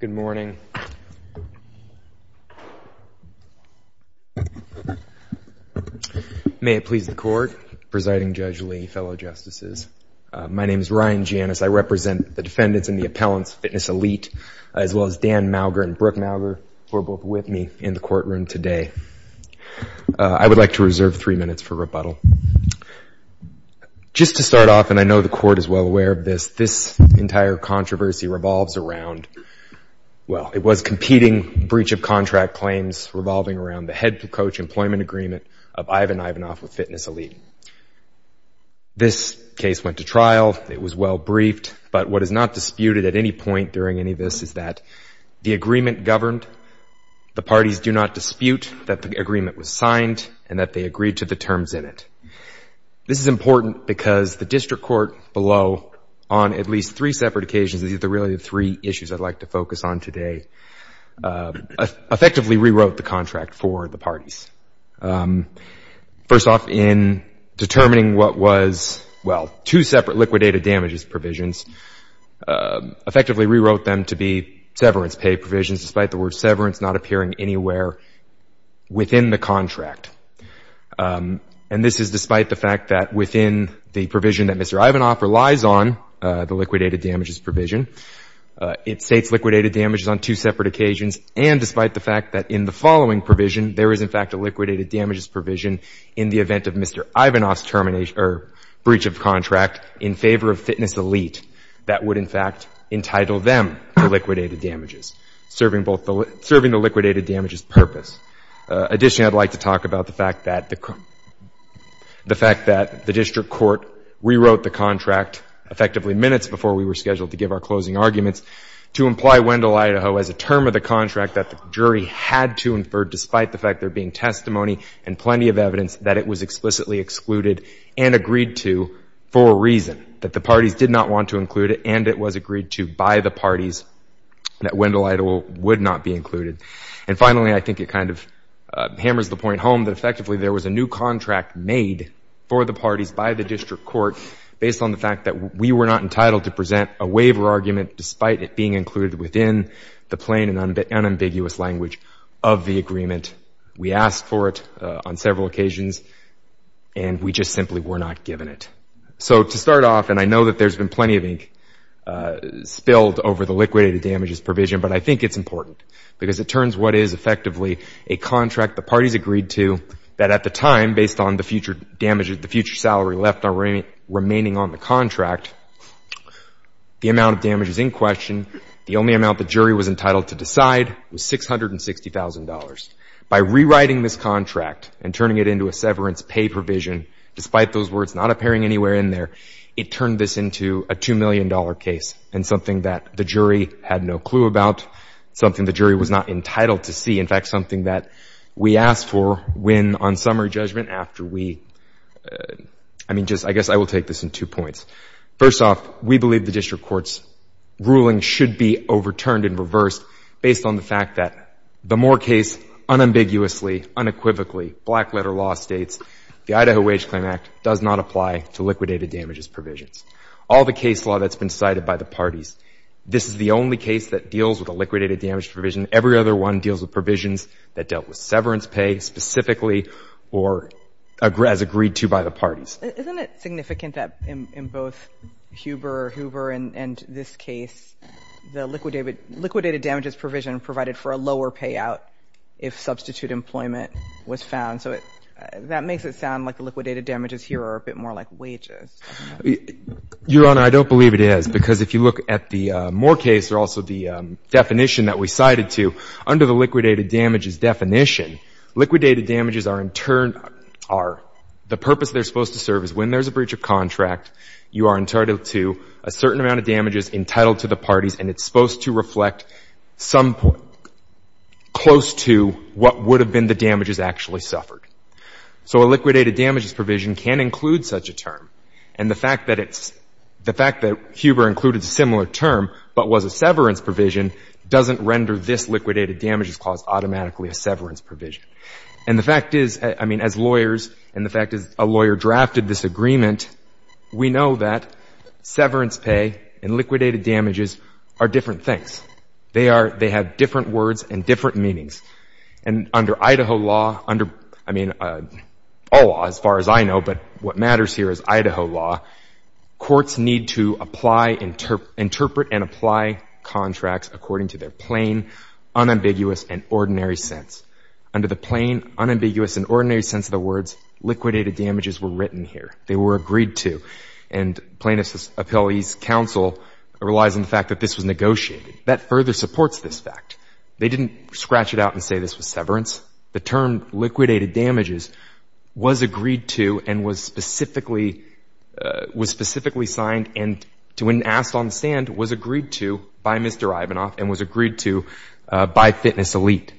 Good morning. May it please the Court, Presiding Judge Lee, fellow Justices, my name is Ryan Janis. I represent the defendants and the appellants, Fitness Elite, as well as Dan Mauger and Brooke Mauger, who are both with me in the courtroom today. I would like to reserve three minutes for rebuttal. Just to start off, and I know the Court is well aware of this, this entire controversy revolves around, well, it was competing breach of contract claims revolving around the head coach employment agreement of Ivan Ivanov with Fitness Elite. This case went to trial, it was well briefed, but what is not disputed at any point during any of this is that the agreement governed, the parties do not dispute that the agreement was signed and that they agreed to the terms in it. This is important because the District Court below, on at least three separate occasions, these are really the three issues I'd like to focus on today, effectively rewrote the contract for the parties. First off, in determining what was, well, two separate liquidated damages provisions, effectively rewrote them to be severance pay provisions, despite the word severance not appearing anywhere within the contract. And this is despite the fact that within the provision that Mr. Ivanov relies on, the liquidated damages provision, it states liquidated damages on two separate occasions, and despite the fact that in the following provision there is in fact a liquidated damages provision in the event of Mr. Ivanov's termination or breach of contract in favor of Fitness Elite that would in fact entitle them to liquidated damages, serving both the, serving the liquidated damages purpose. Additionally, I'd like to talk about the fact that the, the fact that the District Court rewrote the contract, effectively minutes before we were scheduled to give our closing arguments, to imply Wendell, Idaho as a term of the contract that the jury had to infer despite the fact there being testimony and plenty of evidence that it was explicitly excluded and agreed to for a reason, that the parties did not want to include it and it was agreed to by the parties that Wendell, Idaho would not be included. And finally, I think it kind of hammers the point home that effectively there was a new contract made for the parties by the District Court based on the fact that we were not entitled to present a waiver argument despite it being included within the plain and unambiguous language of the agreement. We asked for it on several occasions and we just simply were not given it. So to start off, and I know that there's been plenty of ink spilled over the liquidated damages provision, but I think it's important because it turns what is effectively a contract the parties agreed to that at the time, based on the future damages, the future salary left remaining on the contract, the amount of damage is in question. The only amount the jury was entitled to decide was $660,000. By rewriting this contract and turning it into a severance pay provision, despite those words not appearing anywhere in there, it turned this into a $2 million case and something that the jury had no clue about, something the jury was not entitled to see. In fact, something that we asked for when on summary judgment after we, I mean, just, I guess I will take this in two points. First off, we believe the District Court's ruling should be overturned and reversed based on the fact that the Moore case unambiguously, unequivocally, black letter law states the Idaho Wage Claim Act does not apply to liquidated damages provisions. All the case law that's been cited by the parties, this is the only case that deals with a liquidated damage provision. Every other one deals with provisions that dealt with severance pay specifically or as agreed to by the parties. Isn't it significant that in both Huber and this case, the liquidated damages provision provided for a lower payout if substitute employment was found? So it, that makes it sound like the liquidated damages here are a bit more like wages. Your Honor, I don't believe it is because if you look at the Moore case or also the definition that we cited to, under the liquidated damages definition, liquidated damages are in turn, are, the purpose they're supposed to serve is when there's a breach of contract, you are entitled to a certain amount of damages entitled to the parties, and it's supposed to reflect some close to what would have been the damages actually suffered. So a liquidated damages provision can include such a term. And the fact that it's, the fact that Huber included a similar term but was a severance provision doesn't render this liquidated damages clause automatically a severance provision. And the fact is, I mean, as lawyers, and the fact is a lawyer drafted this agreement, we know that severance pay and liquidated damages are different things. They are, they have different words and different meanings. And under Idaho law, under, I mean, all laws as far as I know, but what matters here is Idaho law, courts need to apply, interpret and apply contracts according to their plain, unambiguous and ordinary sense. Under the plain, unambiguous and ordinary sense of the words, liquidated damages were written here. They were agreed to. And plaintiff's appellee's counsel relies on the fact that this was negotiated. That further supports this fact. They didn't scratch it out and say this was severance. The term liquidated damages was agreed to and was specifically, was specifically signed and to and asked on the stand was agreed to by Mr. Ivanoff and was agreed to by Fitness Elite.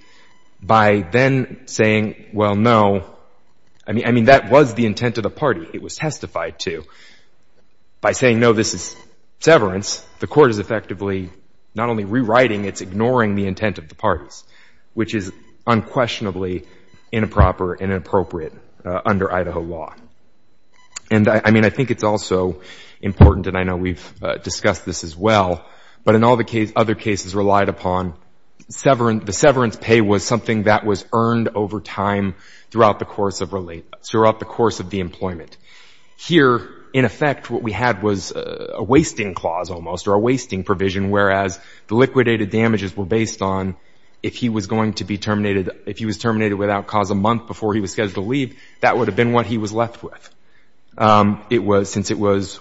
By then saying, well, no, I mean, I mean, that was the intent of the party. It was testified to. By saying, no, this is severance, the court is effectively not only rewriting, it's ignoring the intent of the parties, which is unquestionably inappropriate and inappropriate under Idaho law. And I mean, I think it's also important, and I know we've discussed this as well, but in all the other cases relied upon severance, the severance pay was something that was earned over time throughout the course of the employment. Here, in effect, what we had was a wasting clause almost or a wasting provision, whereas the liquidated damages were based on if he was going to be terminated, if he was terminated without cause a month before he was scheduled to leave, that would have been what he was left with. It was, since it was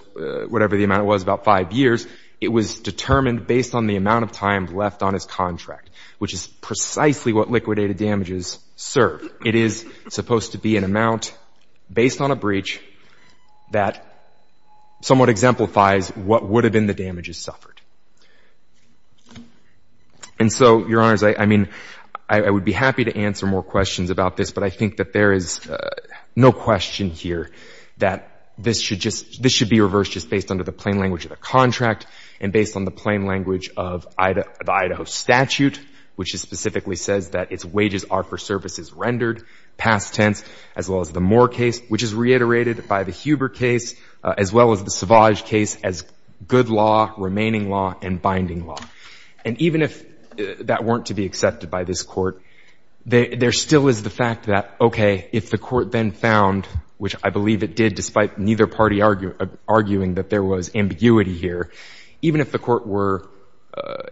whatever the amount was, about five years, it was determined based on the amount of time left on his contract, which is precisely what liquidated damages serve. It is supposed to be an amount based on a breach that somewhat exemplifies what would have been the damages suffered. And so, your honors, I mean, I would be happy to answer more questions about this, but I think that there is no question here that this should be reversed just based on the plain language of the contract and based on the plain language of the Idaho statute, which specifically says that its wages are for services rendered, past tense, as well as the Moore case, which is reiterated by the Huber case, as well as the Savage case as good law, remaining law, and binding law. And if that weren't to be accepted by this Court, there still is the fact that, okay, if the Court then found, which I believe it did despite neither party arguing that there was ambiguity here, even if the Court were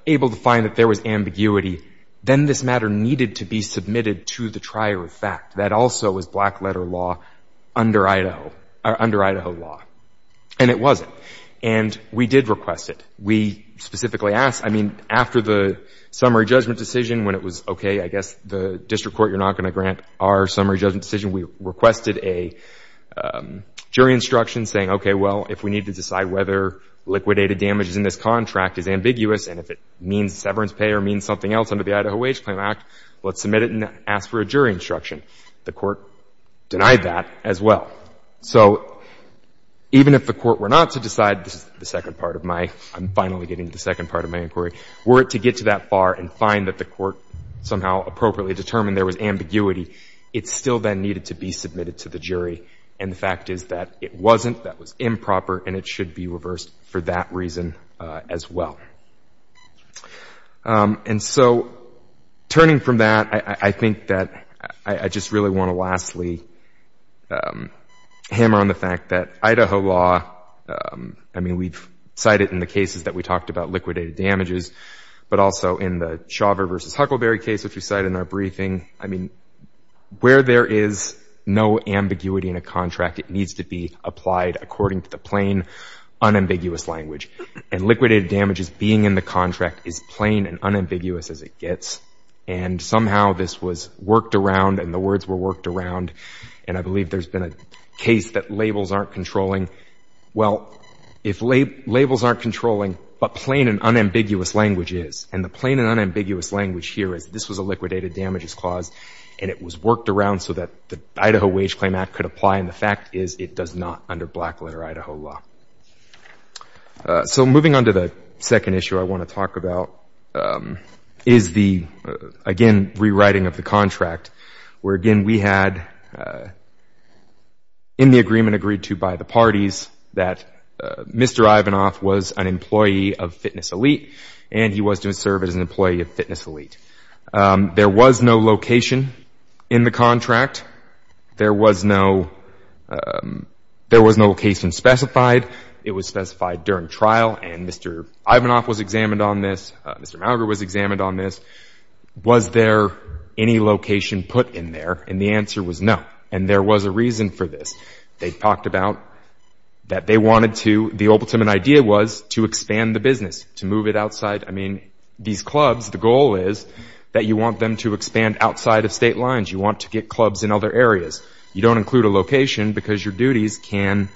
able to find that there was ambiguity, then this matter needed to be submitted to the trier of fact. That also was black-letter law under Idaho, under Idaho law. And it wasn't. And we did request it. We specifically asked, I mean, after the summary judgment decision, when it was, okay, I guess the district court, you're not going to grant our summary judgment decision, we requested a jury instruction saying, okay, well, if we need to decide whether liquidated damages in this contract is ambiguous and if it means severance pay or means something else under the Idaho Wage Claim Act, let's submit it and ask for a jury instruction. The Court denied that as well. So, even if the Court were not to decide, this is the second part of my, I'm finally getting to the second part of my inquiry, were it to get to that bar and find that the Court somehow appropriately determined there was ambiguity, it still then needed to be submitted to the jury. And the fact is that it wasn't, that was improper, and it should be reversed for that reason as well. And so, turning from that, I think that I just really want to lastly hammer on the fact that Idaho law, I mean, we've cited in the cases that we talked about liquidated damages, but also in the Chauver versus Huckleberry case, which we cite in our briefing, I mean, where there is no ambiguity in a contract, it needs to be applied according to the plain, unambiguous language. And liquidated damages being in the contract is plain and unambiguous as it gets, and somehow this was worked around and the words were worked around, and I believe there's been a case that labels aren't controlling. Well, if labels aren't controlling, but plain and unambiguous language is, and the plain and unambiguous language here is this was a liquidated damages clause, and it was worked around so that the Idaho Wage Claim Act could apply, and the fact is it does not under black letter Idaho law. So, moving on to the second issue I want to talk about is the, again, rewriting of the contract, where, again, we had in the agreement agreed to by the parties that Mr. Ivanoff was an employee of Fitness Elite, and he was to serve as an employee of Fitness Elite. There was no location in the contract. There was no location specified. It was specified during trial, and Mr. Ivanoff was examined on this. Mr. Mauger was examined on this. Was there any location put in there? And the answer was no, and there was a reason for this. They talked about that they wanted to, the ultimate idea was to expand the business, to move it outside. I mean, these clubs, the goal is that you want them to expand outside of state lines. You want to get clubs in other areas. You don't include a location because your duties can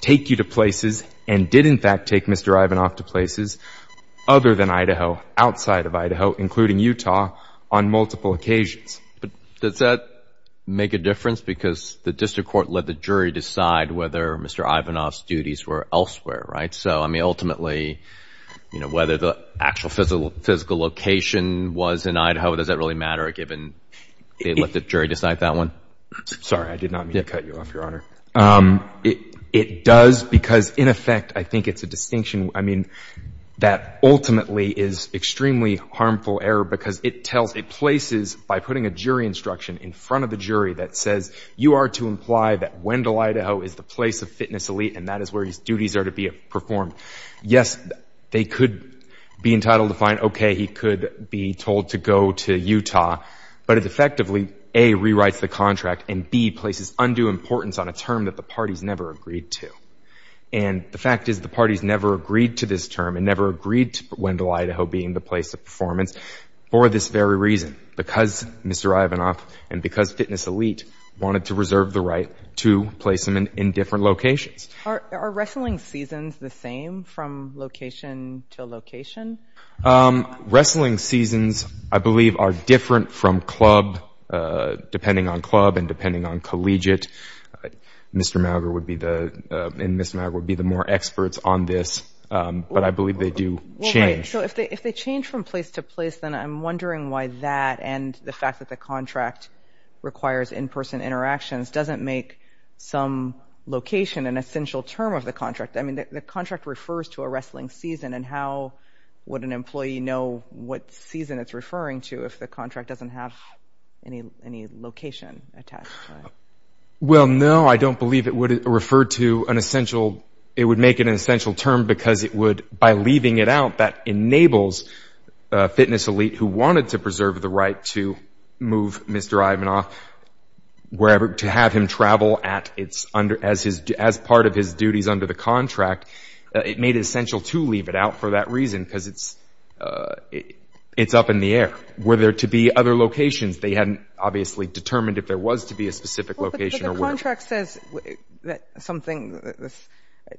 take you to places, and did in fact take Mr. Ivanoff to places other than Idaho, outside of Idaho, including Utah, on multiple occasions. But does that make a difference because the district court let the jury decide whether Mr. Ivanoff's duties were elsewhere, right? So, I mean, ultimately, you know, whether the actual physical location was in Idaho, does that really matter given they let the jury decide that one? Sorry, I did not mean to cut you off, Your Honor. It does because, in effect, I think it's a distinction, I mean, that ultimately is extremely harmful error because it tells, it places, by putting a jury instruction in front of the jury that says, you are to imply that Wendell, Idaho, is the place of fitness elite and that is where his duties are to be performed. Yes, they could be entitled to find, okay, he could be told to go to Utah, but it effectively, A, rewrites the contract, and B, places undue importance on a term that the parties never agreed to. And the fact is the parties never agreed to this term and never agreed to Wendell, Idaho, being the place of performance for this very reason, because Mr. Ivanoff and because fitness elite wanted to reserve the right to place him in different locations. Are wrestling seasons the same from location to location? Wrestling seasons, I believe, are different from club, depending on club and depending on collegiate. Mr. Mauger would be the, and Ms. Mauger would be the more experts on this, but I believe they do change. So if they change from place to place, then I'm wondering why that and the fact that the contract requires in-person interactions doesn't make some location an essential term of the I mean, the contract refers to a wrestling season, and how would an employee know what season it's referring to if the contract doesn't have any location attached to it? Well, no, I don't believe it would refer to an essential, it would make it an essential term because it would, by leaving it out, that enables fitness elite who wanted to preserve the right to move Mr. Ivanoff wherever, to have him travel as part of his duties under the contract. It made it essential to leave it out for that reason because it's up in the air. Were there to be other locations, they hadn't obviously determined if there was to be a specific location or where. But the contract says that something,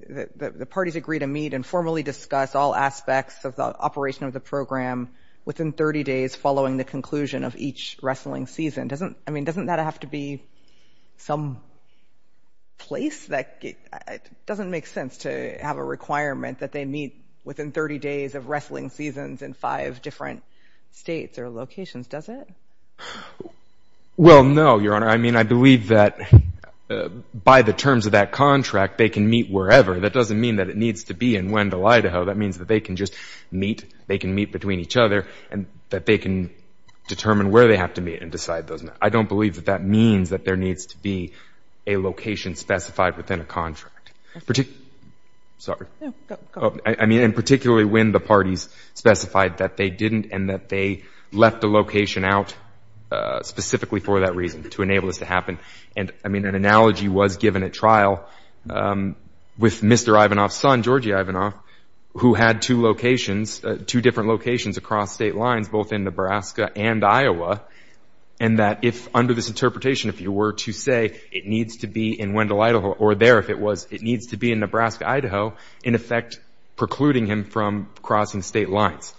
the parties agree to meet and formally discuss all aspects of the operation of the program within 30 days following the conclusion of each wrestling season. I mean, doesn't that have to be some place? That doesn't make sense to have a requirement that they meet within 30 days of wrestling seasons in five different states or locations, does it? Well, no, Your Honor. I mean, I believe that by the terms of that contract, they can meet wherever. That doesn't mean that it needs to be in Wendell, Idaho. That means that they can just meet, they can meet between each other, and that they can determine where they have to meet and decide those. I don't believe that that means that there needs to be a location specified within a contract. I mean, and particularly when the parties specified that they didn't and that they left a location out specifically for that reason to enable this to happen. And I mean, an analogy was given at trial with Mr. Ivanoff's son, Georgie Ivanoff, who had two locations, two different locations across state lines, both in Nebraska and Iowa, and that if, under this interpretation, if you were to say it needs to be in Wendell, Idaho, or there if it was, it needs to be in Nebraska, Idaho, in effect precluding him from crossing state lines.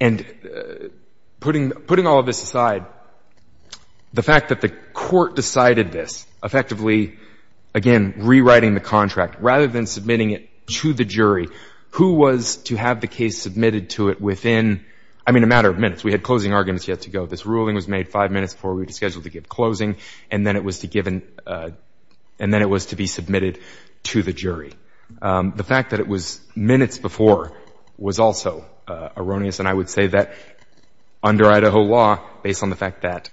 And putting all of this aside, the fact that the court decided this, effectively, again, rewriting the contract rather than submitting it to the jury, who was to have the case submitted to it within, I mean, a matter of minutes. We had closing arguments yet to go. This ruling was made five minutes before we were scheduled to give closing, and then it was to given, and then it was to be submitted to the jury. The fact that it was minutes before was also erroneous, and I would say that under Idaho law, based on the fact that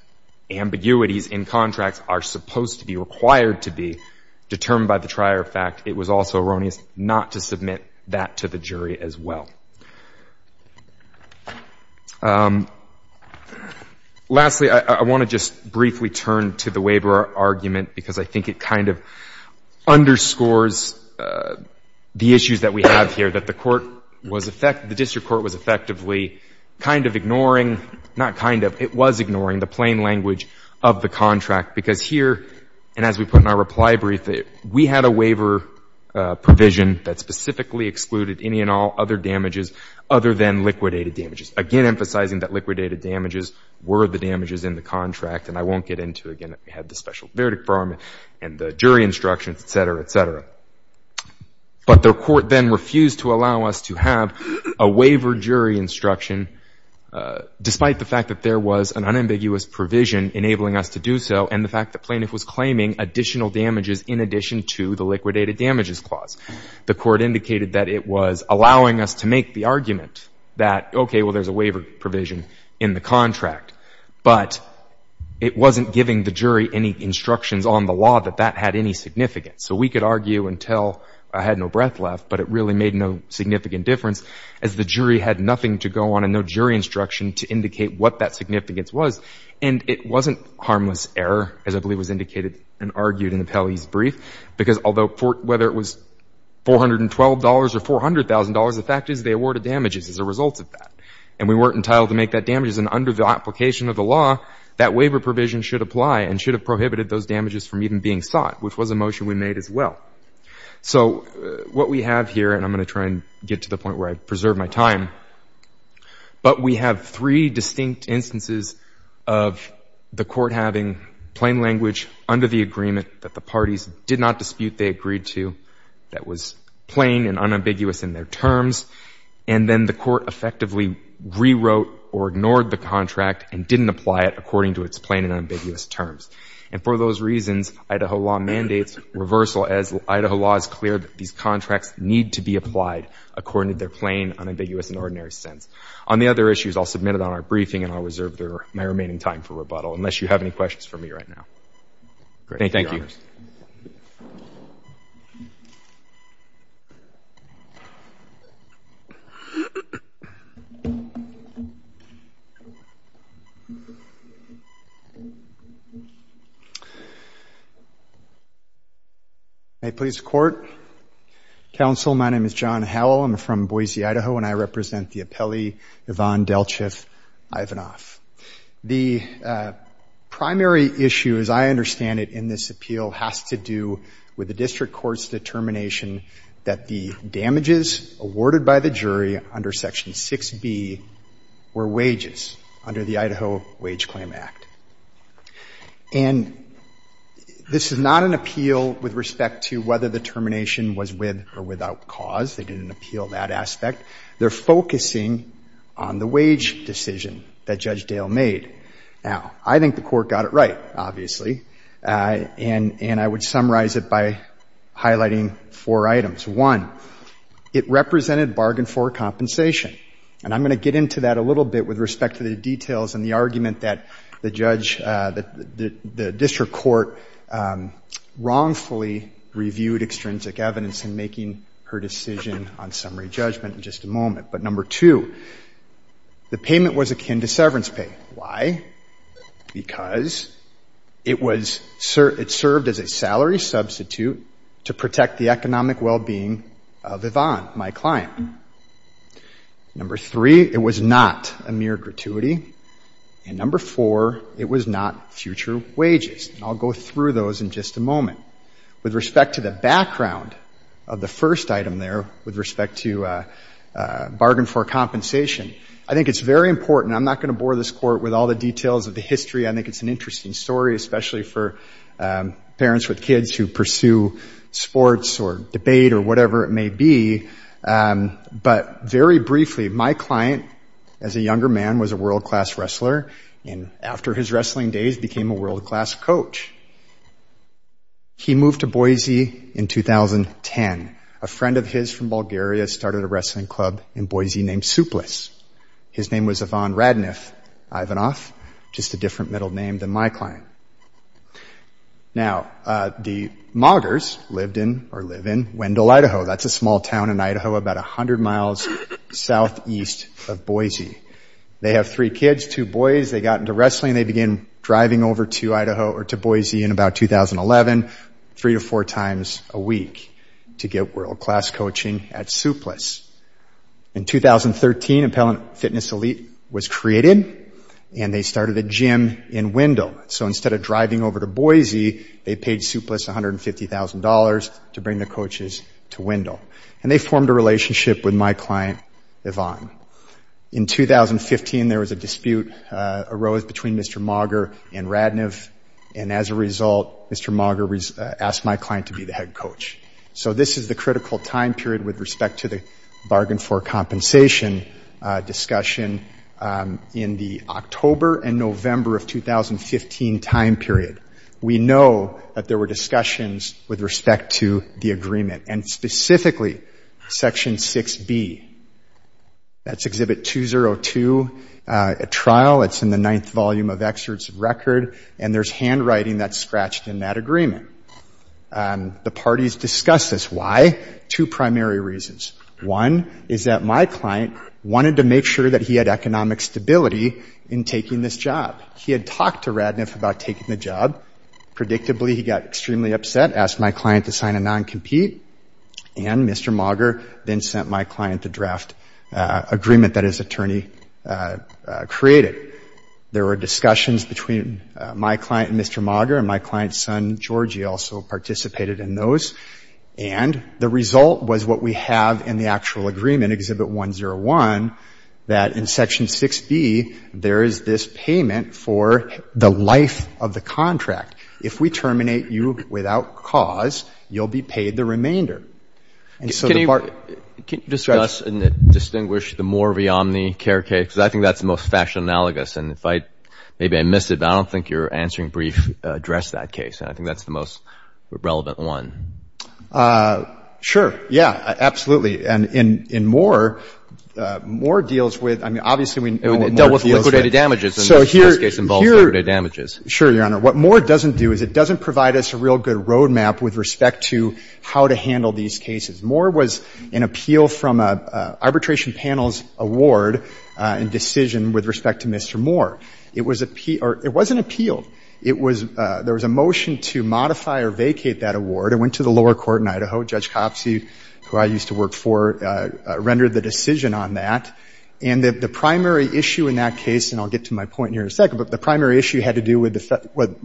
ambiguities in contracts are supposed to be required to be determined by the trier fact, it was also erroneous not to submit that to the jury as well. Lastly, I want to just briefly turn to the waiver argument, because I think it kind of underscores the issues that we have here, that the court was, the district court was effectively kind of ignoring, not kind of, it was ignoring the plain language of the contract, because here, and as we put in our reply brief, we had a waiver provision that specifically excluded any and all other damages other than liquidated damages, again, emphasizing that liquidated damages were the damages in the contract, and I won't get into, again, we had the special verdict for them and the jury instructions, et cetera, et cetera. But the court then refused to allow us to have a waiver jury instruction, despite the fact that there was an unambiguous provision enabling us to do so, and the plaintiff was claiming additional damages in addition to the liquidated damages clause. The court indicated that it was allowing us to make the argument that, okay, well, there's a waiver provision in the contract, but it wasn't giving the jury any instructions on the law that that had any significance. So we could argue until I had no breath left, but it really made no significant difference, as the jury had nothing to go on and no jury instruction to indicate what that significance was, and it wasn't harmless error, as I believe was indicated and argued in the Pele's brief, because although, whether it was $412 or $400,000, the fact is they awarded damages as a result of that, and we weren't entitled to make that damages, and under the application of the law, that waiver provision should apply and should have prohibited those damages from even being sought, which was a motion we made as well. So what we have here, and I'm going to try and get to the point where I've preserved my time, but we have three distinct instances of the court having plain language under the agreement that the parties did not dispute, they agreed to, that was plain and unambiguous in their terms, and then the court effectively rewrote or ignored the contract and didn't apply it according to its plain and ambiguous terms. And for those reasons, Idaho law mandates reversal as Idaho law is clear that these contracts need to be applied according to their plain, unambiguous and ordinary sense. On the other issues, I'll submit it on our briefing, and I'll reserve my remaining time for rebuttal, unless you have any questions for me right now. Thank you, Your Honors. May it please the Court. Counsel, my name is John Howell. I'm from Boise, Idaho, and I represent the appellee, Yvonne Delchiff Ivanoff. The primary issue, as I understand it in this appeal, has to do with the district court's determination that the damages awarded by the jury under Section 6B were wages under the Idaho Wage Claim Act. And this is not an appeal with respect to whether the termination was with or without cause. They didn't appeal that aspect. They're focusing on the wage decision that Judge Dale made. Now, I think the Court got it right, obviously, and I would summarize it by highlighting four items. One, it represented bargain for compensation. And I'm going to get into that a little bit with respect to the details and the argument that the judge, the district court wrongfully reviewed extrinsic evidence in making her decision on summary judgment in just a moment. But number two, the payment was akin to severance pay. Why? Because it served as a salary substitute to protect the economic well-being of Yvonne, my client. Number three, it was not a mere gratuity. And number four, it was not future wages. And I'll go through those in just a moment. With respect to the background of the first item there, with respect to bargain for compensation, I think it's very important. I'm not going to bore this Court with all the details of the history. I think it's an interesting story, especially for parents with kids who pursue sports or debate or whatever it may be. But very briefly, my client, as a younger man, was a world-class wrestler. And after his wrestling days, became a world-class coach. He moved to Boise in 2010. A friend of his from Bulgaria started a wrestling club in Boise named Suplice. His name was Yvonne Radnif Ivanov, just a different middle name than my client. Now, the Moggers lived in or live in Wendell, Idaho. That's a small town in Idaho about a hundred miles southeast of Boise. They have three kids, two boys. They got into wrestling. They began driving over to Idaho or to Boise in about 2011, three to four times a week to get world-class coaching at Suplice. In 2013, Appellant Fitness Elite was created and they started a gym in Wendell. So instead of driving over to Boise, they paid Suplice $150,000 to bring the coaches to Wendell. And they formed a relationship with my client, Yvonne. In 2015, there was a dispute arose between Mr. Mogger and Radnif. And as a result, Mr. Mogger asked my client to be the head coach. So this is the critical time period with respect to the bargain for compensation discussion in the October and November of 2015 time period. We know that there were discussions with respect to the agreement and specifically Section 6B. That's Exhibit 202 at trial. It's in the ninth volume of excerpts of record. And there's handwriting that's scratched in that agreement. The parties discussed this. Why? Two primary reasons. One is that my client wanted to make sure that he had economic stability in taking this job. He had talked to Radnif about taking the job. Predictably, he got extremely upset, asked my client to sign a non-compete. And Mr. Mogger then sent my client the draft agreement that his attorney created. There were discussions between my client and Mr. Mogger. And my client's son, Georgie, also participated in those. And the result was what we have in the actual agreement, Exhibit 101, that in Section 6B, there is this payment for the life of the contract. If we terminate you without cause, you'll be paid the remainder. And so the part that's ‑‑ Can you discuss and distinguish the Moore v. Omni care case? Because I think that's the most factional analogous. And if I ‑‑ maybe I missed it, but I don't think your answering brief addressed that case. And I think that's the most relevant one. Sure. Yeah. Absolutely. And in Moore, Moore deals with ‑‑ I mean, obviously we know what Moore deals with. It dealt with liquidated damages. And this case involves liquidated damages. Sure, Your Honor. What Moore doesn't do is it doesn't provide us a real good roadmap with respect to how to handle these cases. Moore was an appeal from an arbitration panel's award and decision with respect to Mr. Moore. It was a ‑‑ or it wasn't appeal. It was ‑‑ there was a motion to modify or vacate that award. It went to the lower court in Idaho. Judge Copsey, who I used to work for, rendered the decision on that. And the primary issue in that case, and I'll get to my point here in a second, but the primary issue had to do with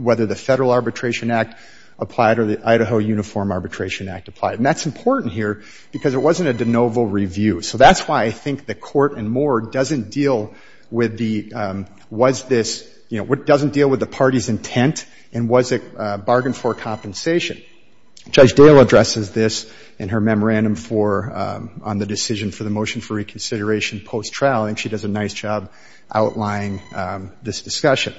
whether the Federal Arbitration Act applied or the Idaho Uniform Arbitration Act applied. And that's important here because it wasn't a de novo review. So that's why I think the court in Moore doesn't deal with the ‑‑ was this ‑‑ you know, doesn't deal with the party's intent and was it bargained for compensation. Judge Dale addresses this in her memorandum for ‑‑ on the decision for the reconsideration post‑trial. I think she does a nice job outlining this discussion.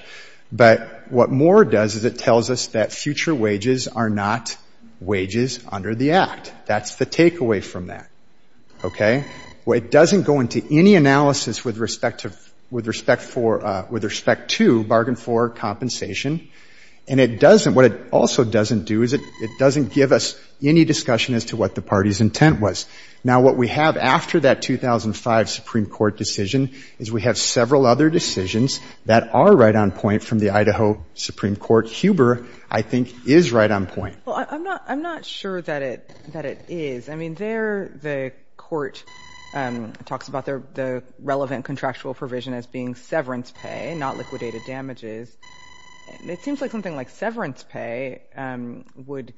But what Moore does is it tells us that future wages are not wages under the Act. That's the takeaway from that. Okay? It doesn't go into any analysis with respect to ‑‑ with respect for ‑‑ with respect to bargain for compensation. And it doesn't ‑‑ what it also doesn't do is it doesn't give us any discussion as to what the party's intent was. Now, what we have after that 2005 Supreme Court decision is we have several other decisions that are right on point from the Idaho Supreme Court. Huber, I think, is right on point. Well, I'm not ‑‑ I'm not sure that it ‑‑ that it is. I mean, there the court talks about the relevant contractual provision as being severance pay, not liquidated damages. It seems like something like severance pay would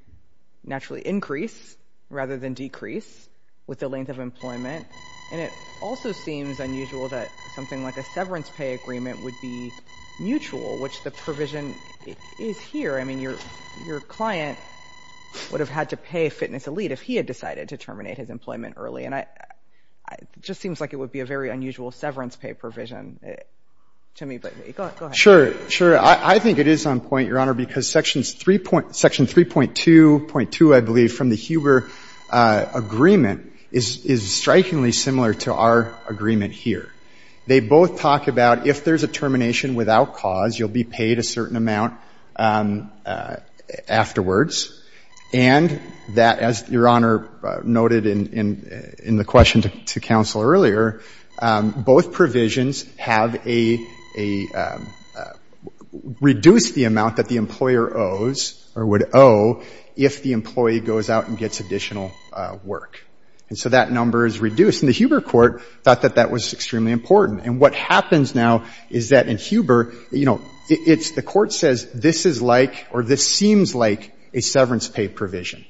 naturally increase rather than decrease with the length of employment. And it also seems unusual that something like a severance pay agreement would be mutual, which the provision is here. I mean, your client would have had to pay Fitness Elite if he had decided to terminate his employment early. And I ‑‑ it just seems like it would be a very unusual severance pay provision to me. But go ahead. Sure. Sure. I think it is on point, Your Honor, because Section 3.2.2, I believe, from the Huber agreement is strikingly similar to our agreement here. They both talk about if there's a termination without cause, you'll be paid a certain amount afterwards. And that, as Your Honor noted in the question to counsel earlier, both provisions have a ‑‑ reduce the amount that the employer owes or would owe if the employee goes out and gets additional work. And so that number is reduced. And the Huber court thought that that was extremely important. And what happens now is that in Huber, you know, it's ‑‑ the court says this is like or this seems like a severance pay provision.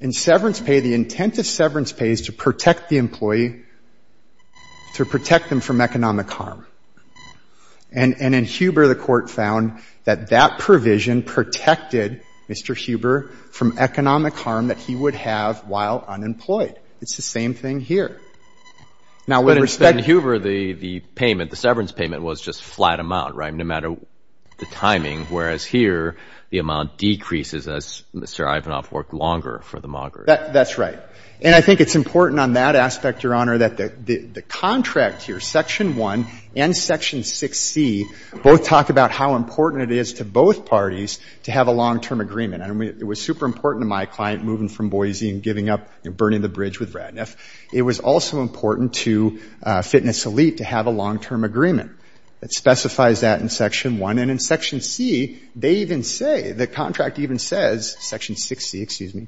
In severance pay, the intent of the severance pay is to protect the employee, to protect them from economic harm. And in Huber, the court found that that provision protected Mr. Huber from economic harm that he would have while unemployed. It's the same thing here. Now in Huber, the payment, the severance payment was just flat amount, right, no matter the timing, whereas here, the amount decreases as Mr. Ivanoff worked longer for the mogger. That's right. And I think it's important on that aspect, Your Honor, that the contract here, section 1 and section 6C, both talk about how important it is to both parties to have a long-term agreement. And it was super important to my client moving from Boise and giving up, you know, burning the bridge with Radniff. It was also important to Fitness Elite to have a long-term agreement that specifies that in section 1. And in section C, they even say, the contract even says, section 6C, excuse me,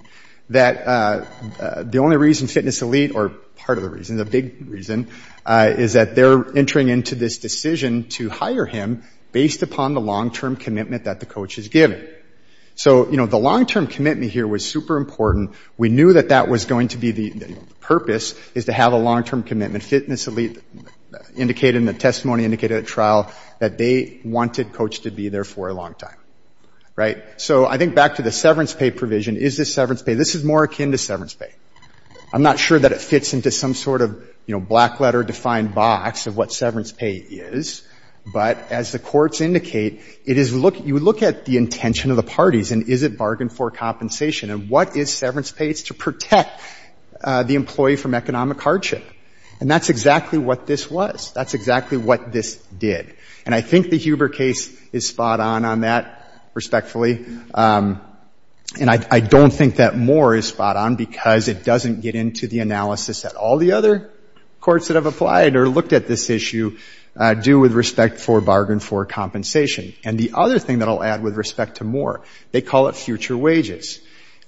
that the only reason Fitness Elite, or part of the reason, the big reason, is that they're entering into this decision to hire him based upon the long-term commitment that the coach has given. So, you know, the long-term commitment here was super important. We knew that that was going to be the purpose, is to have a long-term commitment. Fitness Elite indicated in the testimony, indicated at the trial, that they wanted coach to be there for a long time. Right? So I think back to the severance pay provision. Is this severance pay? This is more akin to severance pay. I'm not sure that it fits into some sort of, you know, black letter defined box of what severance pay is. But as the courts indicate, it is, you look at the intention of the parties, and is it bargain for compensation? And what is severance pay? It's to protect the employee from economic hardship. And that's exactly what this was. That's exactly what this did. And I think the Huber case is spot on on that, respectfully. And I don't think that Moore is spot on because it doesn't get into the analysis that all the other courts that have applied or looked at this issue do with respect for bargain for compensation. And the other thing that I'll add with respect to Moore, they call it future wages.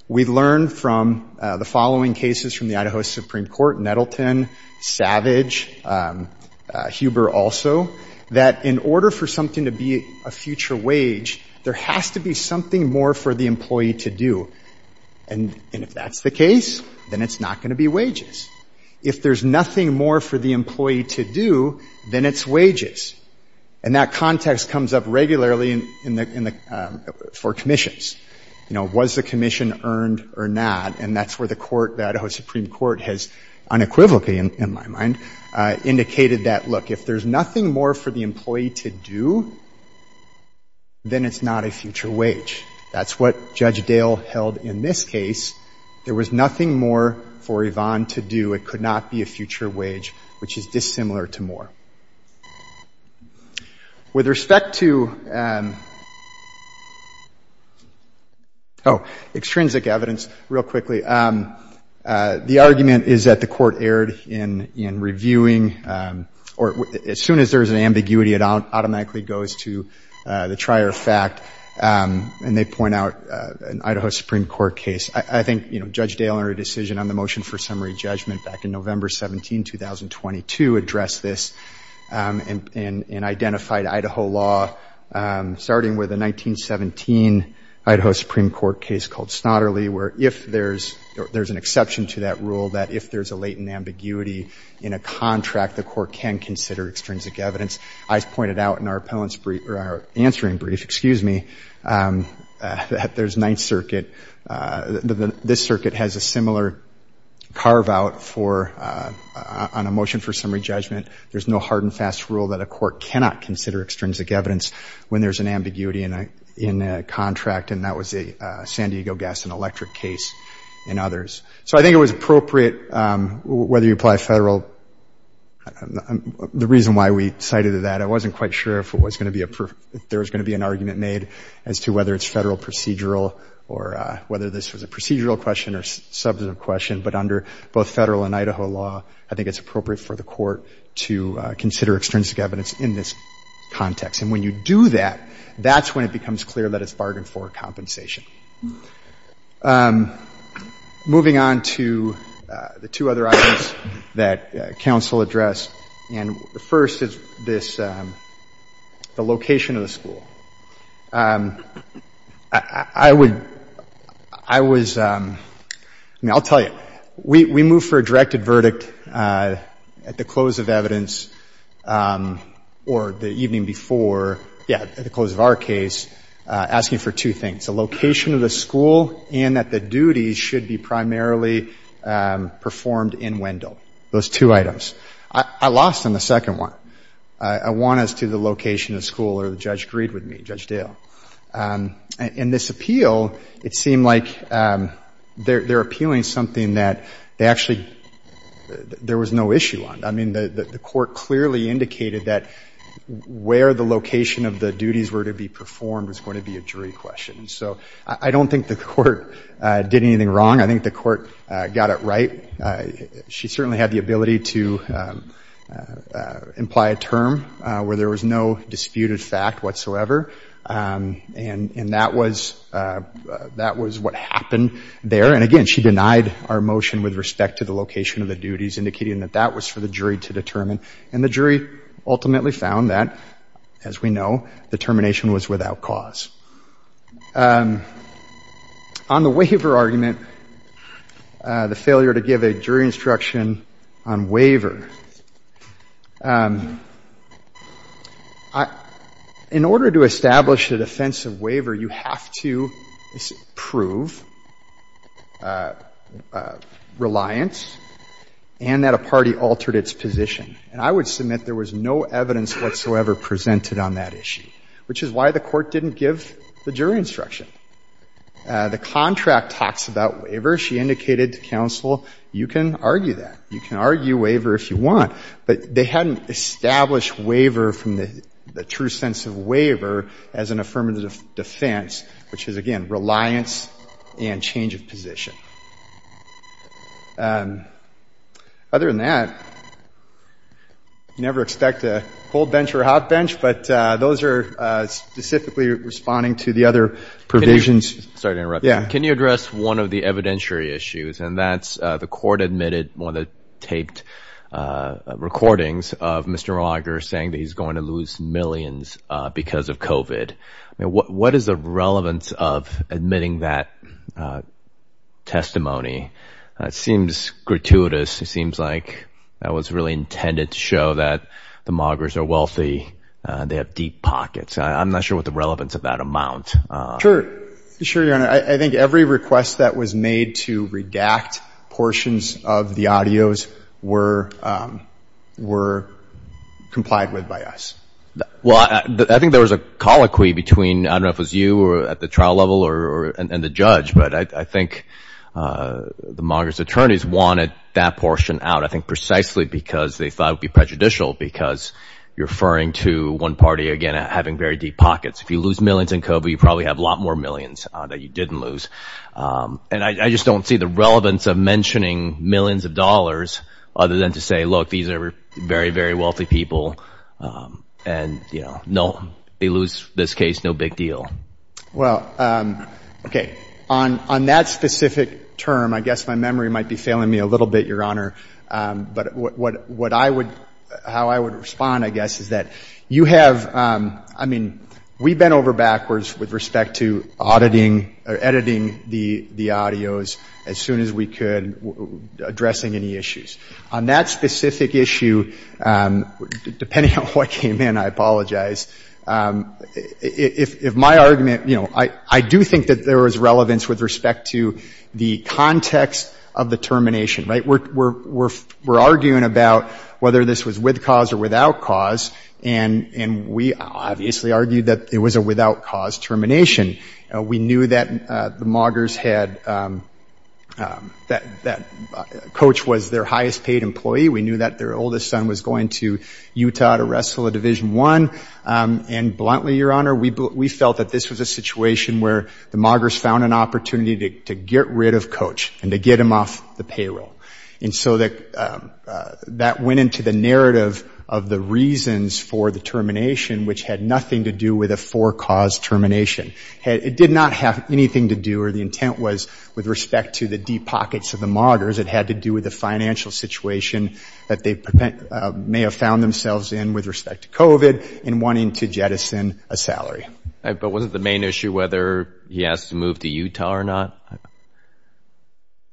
We learned from the following cases from the Idaho Supreme Court, Nettleton, Savage, Huber also, that in order for something to be a future wage, there has to be something more for the employee to do. And if that's the case, then it's not going to be wages. If there's nothing more for the employee to do, then it's wages. And that context comes up regularly in the, for commissions. You know, was the commission earned or not? And that's where the court, the Idaho Supreme Court, has unequivocally, in my mind, indicated that, look, if there's nothing more for the employee to do, then it's not a future wage. That's what Judge Dale held in this case. There was nothing more for Yvonne to do. It could not be a future wage, which is dissimilar to Moore. With respect to, oh, extrinsic evidence, real quickly, the argument is that the court erred in reviewing, or as soon as there's an ambiguity, it automatically goes to the trier of fact. And they point out an Idaho Supreme Court case. I think, you know, Judge Dale and her decision on the summary judgment back in November 17, 2022, addressed this and identified Idaho law, starting with a 1917 Idaho Supreme Court case called Snodderley, where if there's an exception to that rule, that if there's a latent ambiguity in a contract, the court can consider extrinsic evidence. I pointed out in our answering brief, excuse me, that there's Ninth Circuit. This circuit has a similar carve out on a motion for summary judgment. There's no hard and fast rule that a court cannot consider extrinsic evidence when there's an ambiguity in a contract, and that was a San Diego Gas and Electric case and others. So I think it was appropriate, whether you apply federal, the reason why we cited that, I wasn't quite sure if there was going to be an argument made as to whether it's federal procedural or whether this was a procedural question or substantive question, but under both federal and Idaho law, I think it's appropriate for the court to consider extrinsic evidence in this context. And when you do that, that's when it becomes clear that it's bargained for compensation. Moving on to the two other items that counsel addressed, and the first is this location of the school. I would, I was, I mean, I'll tell you, we moved for a directed verdict at the close of evidence or the evening before, yeah, at the close of our case, asking for two things, the location of the school and that the duties should be primarily performed in Wendell, those two items. I lost on the second one. I want us to do the location of school or the judge agreed with me, Judge Dale. And this appeal, it seemed like they're appealing something that they actually, there was no issue on. I mean, the court clearly indicated that where the location of the duties were to be performed was going to be a jury question. So I don't think the court did anything wrong. I think the court got it right. She certainly had the ability to imply a term where there was no disputed fact whatsoever. And that was, that was what happened there. And again, she denied our motion with respect to the location of the duties, indicating that that was for the jury to determine. And the jury ultimately found that, as we know, the termination was without cause. On the waiver argument, the failure to give a jury instruction on waiver, in order to establish a defensive waiver, you have to prove reliance and that a party altered its position. And I would submit there was no evidence whatsoever presented on that issue, which is why the court didn't give the jury instruction. The contract talks about waiver. She indicated to counsel, you can argue that. You can argue waiver if you want. But they hadn't established waiver from the true sense of waiver as an affirmative defense, which is, again, reliance and change of position. Other than that, never expect a cold bench or a hot bench, but those are specifically responding to the other provisions. Can you address one of the evidentiary issues, and that's the court admitted one of the taped recordings of Mr. Mauger saying that he's going to lose millions because of COVID. What is the relevance of admitting that testimony? It seems gratuitous. It seems like that was really intended to show that the Maugers are wealthy. They have deep pockets. I'm not sure what the relevance of that amount. Sure, Your Honor. I think every request that was made to redact portions of the audios were complied with by us. Well, I think there was a colloquy between, I don't know if it was you at the trial level and the judge, but I think the Maugers' attorneys wanted that portion out, I think precisely because they thought it would be prejudicial because you're referring to one party, again, having very deep pockets. If you lose millions in COVID, you probably have a lot more millions that you didn't lose. And I just don't see the relevance of mentioning millions of dollars other than to say, look, these are very, very wealthy people, and they lose, in this case, no big deal. Well, okay. On that specific term, I guess my memory might be failing me a little bit, Your Honor, but what I would, how I would respond, I guess, is that you have, I mean, we bent over backwards with respect to auditing or editing the audios as soon as we could addressing any issues. On that specific issue, depending on what came in, I apologize, if my argument, you know, I do think that there was relevance with respect to the context of the termination, right? We're arguing about whether this was with cause or without cause, and we obviously argued that it was a without cause termination. We knew that the Maugers had, that Coach was their highest paid employee. We knew that their oldest son was going to Utah to wrestle a Division I, and bluntly, Your Honor, we felt that this was a situation where the Maugers found an opportunity to get rid of Coach and to get him off the payroll. And so that went into the narrative of the reasons for the termination, which had nothing to do with a for-cause termination. It did not have anything to do, or the intent was, with respect to the deep pockets of the Maugers. It had to do with the financial situation that they may have found themselves in with respect to COVID and wanting to jettison a salary. But wasn't the main issue whether he has to move to Utah or not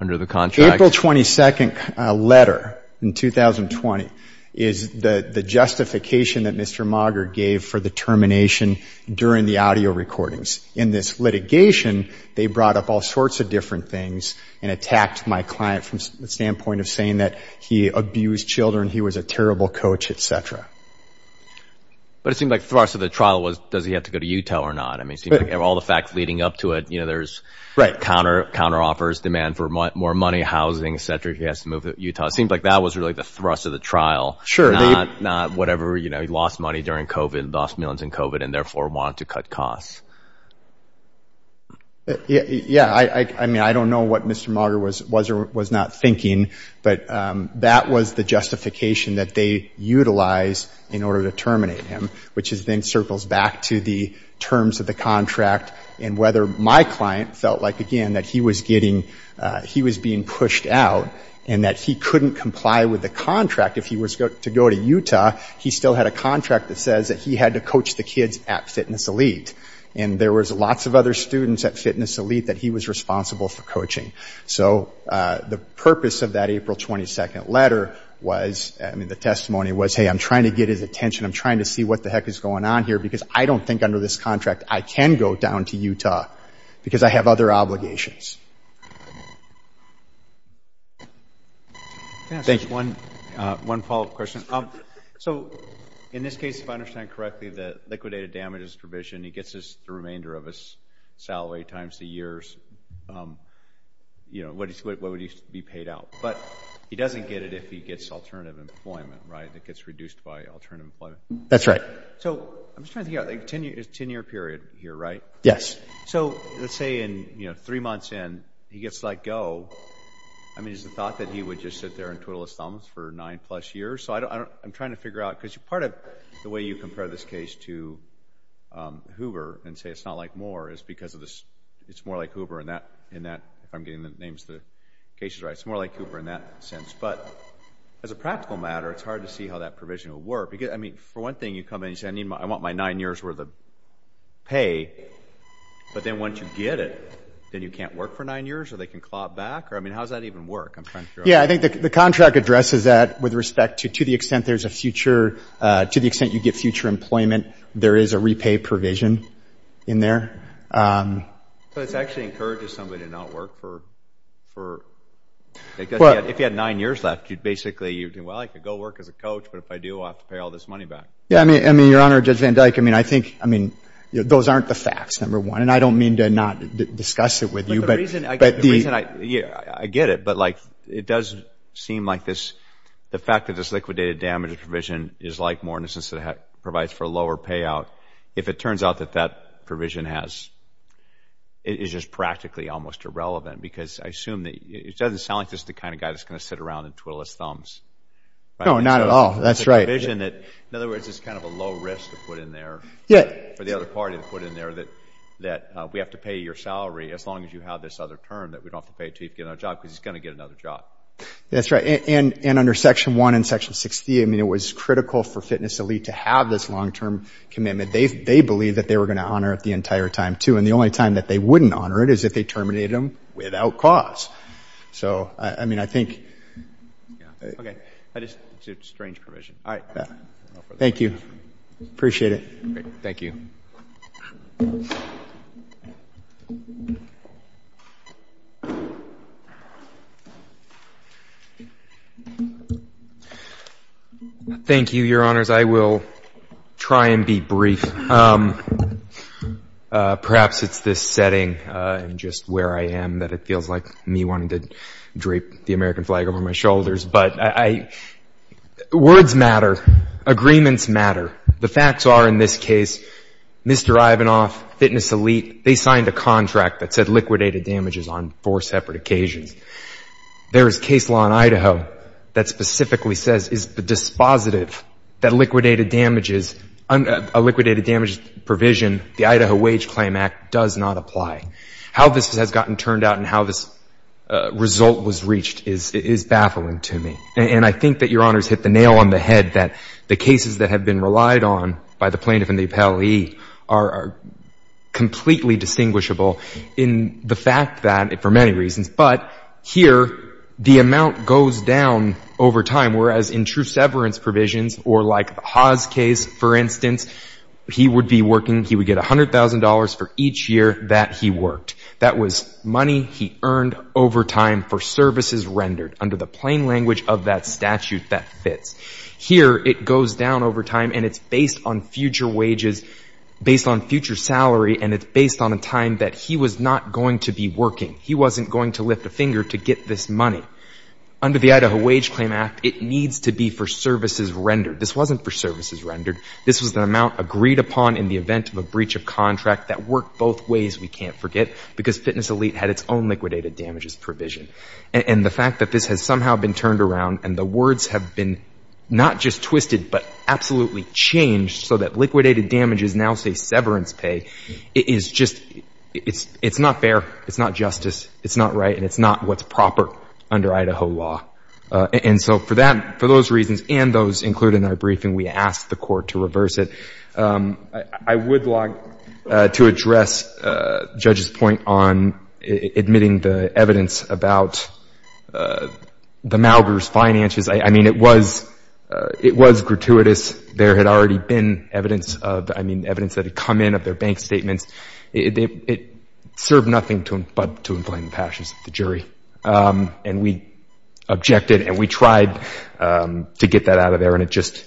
under the contract? April 22nd letter in 2020 is the justification that Mr. Mauger gave for the termination during the audio recordings. In this litigation, they brought up all sorts of different things and attacked my client from the standpoint of saying that he abused children, he was a terrible coach, etc. But it seemed like the thrust of the trial was, does he have to go to Utah or not? I mean, all the facts leading up to it, there's counter-offers, demand for more money, housing, etc. He has to move to Utah. It seems like that was really the thrust of the trial, not whatever, you know, he lost money during COVID, lost millions in COVID, and therefore wanted to cut costs. Yeah. I mean, I don't know what Mr. Mauger was not thinking, but that was the justification that they utilized in order to terminate him, which then circles back to the terms of the contract and whether my client felt like, again, that he was being pushed out and that he couldn't comply with the contract. If he was to go to Utah, he still had a contract that says that he had to coach the kids at Fitness Elite. And there was lots of other students at Fitness Elite that he was responsible for coaching. So the purpose of that April 22nd letter was, I mean, the testimony was, hey, I'm trying to get his attention. I'm trying to see what the heck is going on here because I don't think under this contract I can go down to Utah because I have other obligations. Can I ask one follow-up question? So in this case, if I understand correctly, the liquidated damages provision, he gets the remainder of his salary times the years. What would be paid out? But he doesn't get it if he gets alternative employment, right? It gets reduced by alternative employment. That's right. So I'm just trying to get a 10-year period here, right? Yes. So let's say in three months in, he gets let go. I mean, is the thought that he would just sit there and twiddle his thumbs for nine plus years? So I'm trying to figure out, because part of the way you compare this case to Hoover and say it's not like Moore is because it's more like Hoover in that, if I'm getting the names of the cases right, it's more like Hoover in that sense. But as a practical matter, it's hard to see how that provision will work. I mean, for one thing, you come in and say, I want my nine years worth of pay, but then once you get it, then you can't work for nine years or they can clob back? Or, I mean, how does that even work? I'm trying to figure out. Yeah. I think the contract addresses that with respect to, to the extent there's a future, to the extent you get future employment, there is a repay provision in there. But it's actually encouraging somebody to not work for, because if you had nine years left, you'd basically, well, I could go work as a coach, but if I do, I'll have to pay all this money back. Yeah. I mean, I mean, Your Honor, Judge Van Dyke, I mean, I think, I mean, those aren't the facts, number one. And I don't mean to not discuss it with you, but the reason I get it, but like, it does seem like this, the fact that this liquidated damages provision is like Moore, in a sense that it provides for a lower payout. If it turns out that that provision has, it is just practically almost irrelevant because I assume that it doesn't sound like this is the kind of guy that's going to sit around and twiddle his thumbs. No, not at all. That's right. In other words, it's kind of a low risk to put in there, for the other party to put in there, that we have to pay your salary as long as you have this other term that we don't have to pay to you to get another job, because he's going to get another job. That's right. And under Section 1 and Section 60, I mean, it was critical for Fitness Elite to have this long-term commitment. They believed that they were going to honor it the entire time, too. And the only time that they wouldn't honor it is if they terminated them without cause. So, I mean, I think. Okay. That is a strange provision. Thank you. Appreciate it. Thank you. Thank you, Your Honors. I will try and be brief. Perhaps it's this setting and just where I am that it feels like me wanting to drape the American flag over my shoulders. But words matter. Agreements matter. The facts are, in this case, Mr. Ivanoff, Fitness Elite, they signed a contract that said liquidated damages on four separate occasions. There is case law in Idaho that specifically says is the dispositive that liquidated damages, a liquidated damages provision, the Idaho Wage Claim Act, does not apply. How this has gotten turned out and how this result was reached is baffling to me. And I think that Your Honors hit the nail on the head that the cases that have been relied on by the plaintiff and the appellee are completely distinguishable in the fact that, for many reasons, but here the amount goes down over time, whereas in true severance provisions or like the Haas case, for instance, he would be working, he would get $100,000 for each year that he worked. That was money he earned over time for services rendered under the plain language of that statute that fits. Here it goes down over time and it's based on future wages, based on future salary, and it's based on a time that he was not going to be working. He wasn't going to lift a finger to get this money. Under the Idaho Wage Claim Act, it needs to be for services rendered. This wasn't for services rendered. This was the amount agreed upon in the event of a breach of contract that worked both ways, we can't forget, because Fitness Elite had its own liquidated damages provision. And the fact that this has somehow been turned around and the words have been not just twisted, but absolutely changed so that liquidated damages now say severance pay is just, it's not fair. It's not justice. It's not right and it's not what's proper under Idaho law. And so for that, for those reasons and those included in our briefing, we asked the Court to reverse it. I would like to address Judge's point on admitting the evidence about the Maugers' finances. I mean, it was gratuitous. There had already been evidence of, I mean, evidence that had come in of their bank statements. It served nothing but to inflame the passions of the jury. And we objected and we tried to get that out of there and it just,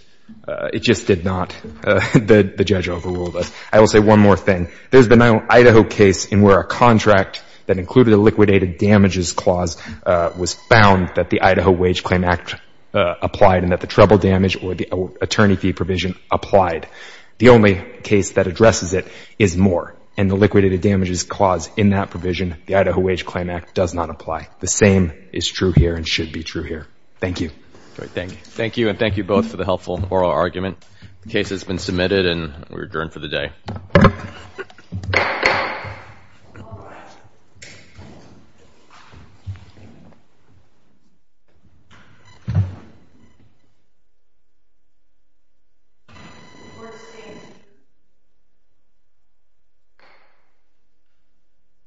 it just did not. The judge overruled us. I will say one more thing. There's been an Idaho case in where a contract that included a liquidated damages clause was found that the Idaho Wage Claim Act applied and that the treble damage or the attorney fee provision applied. The only case that addresses it is Moore and the liquidated damages clause in that provision, the Idaho Wage Claim Act does not apply. The same is true here and should be true here. Thank you. Thank you. Thank you and thank you both for the helpful oral argument. The case has been submitted and we're adjourned for the day.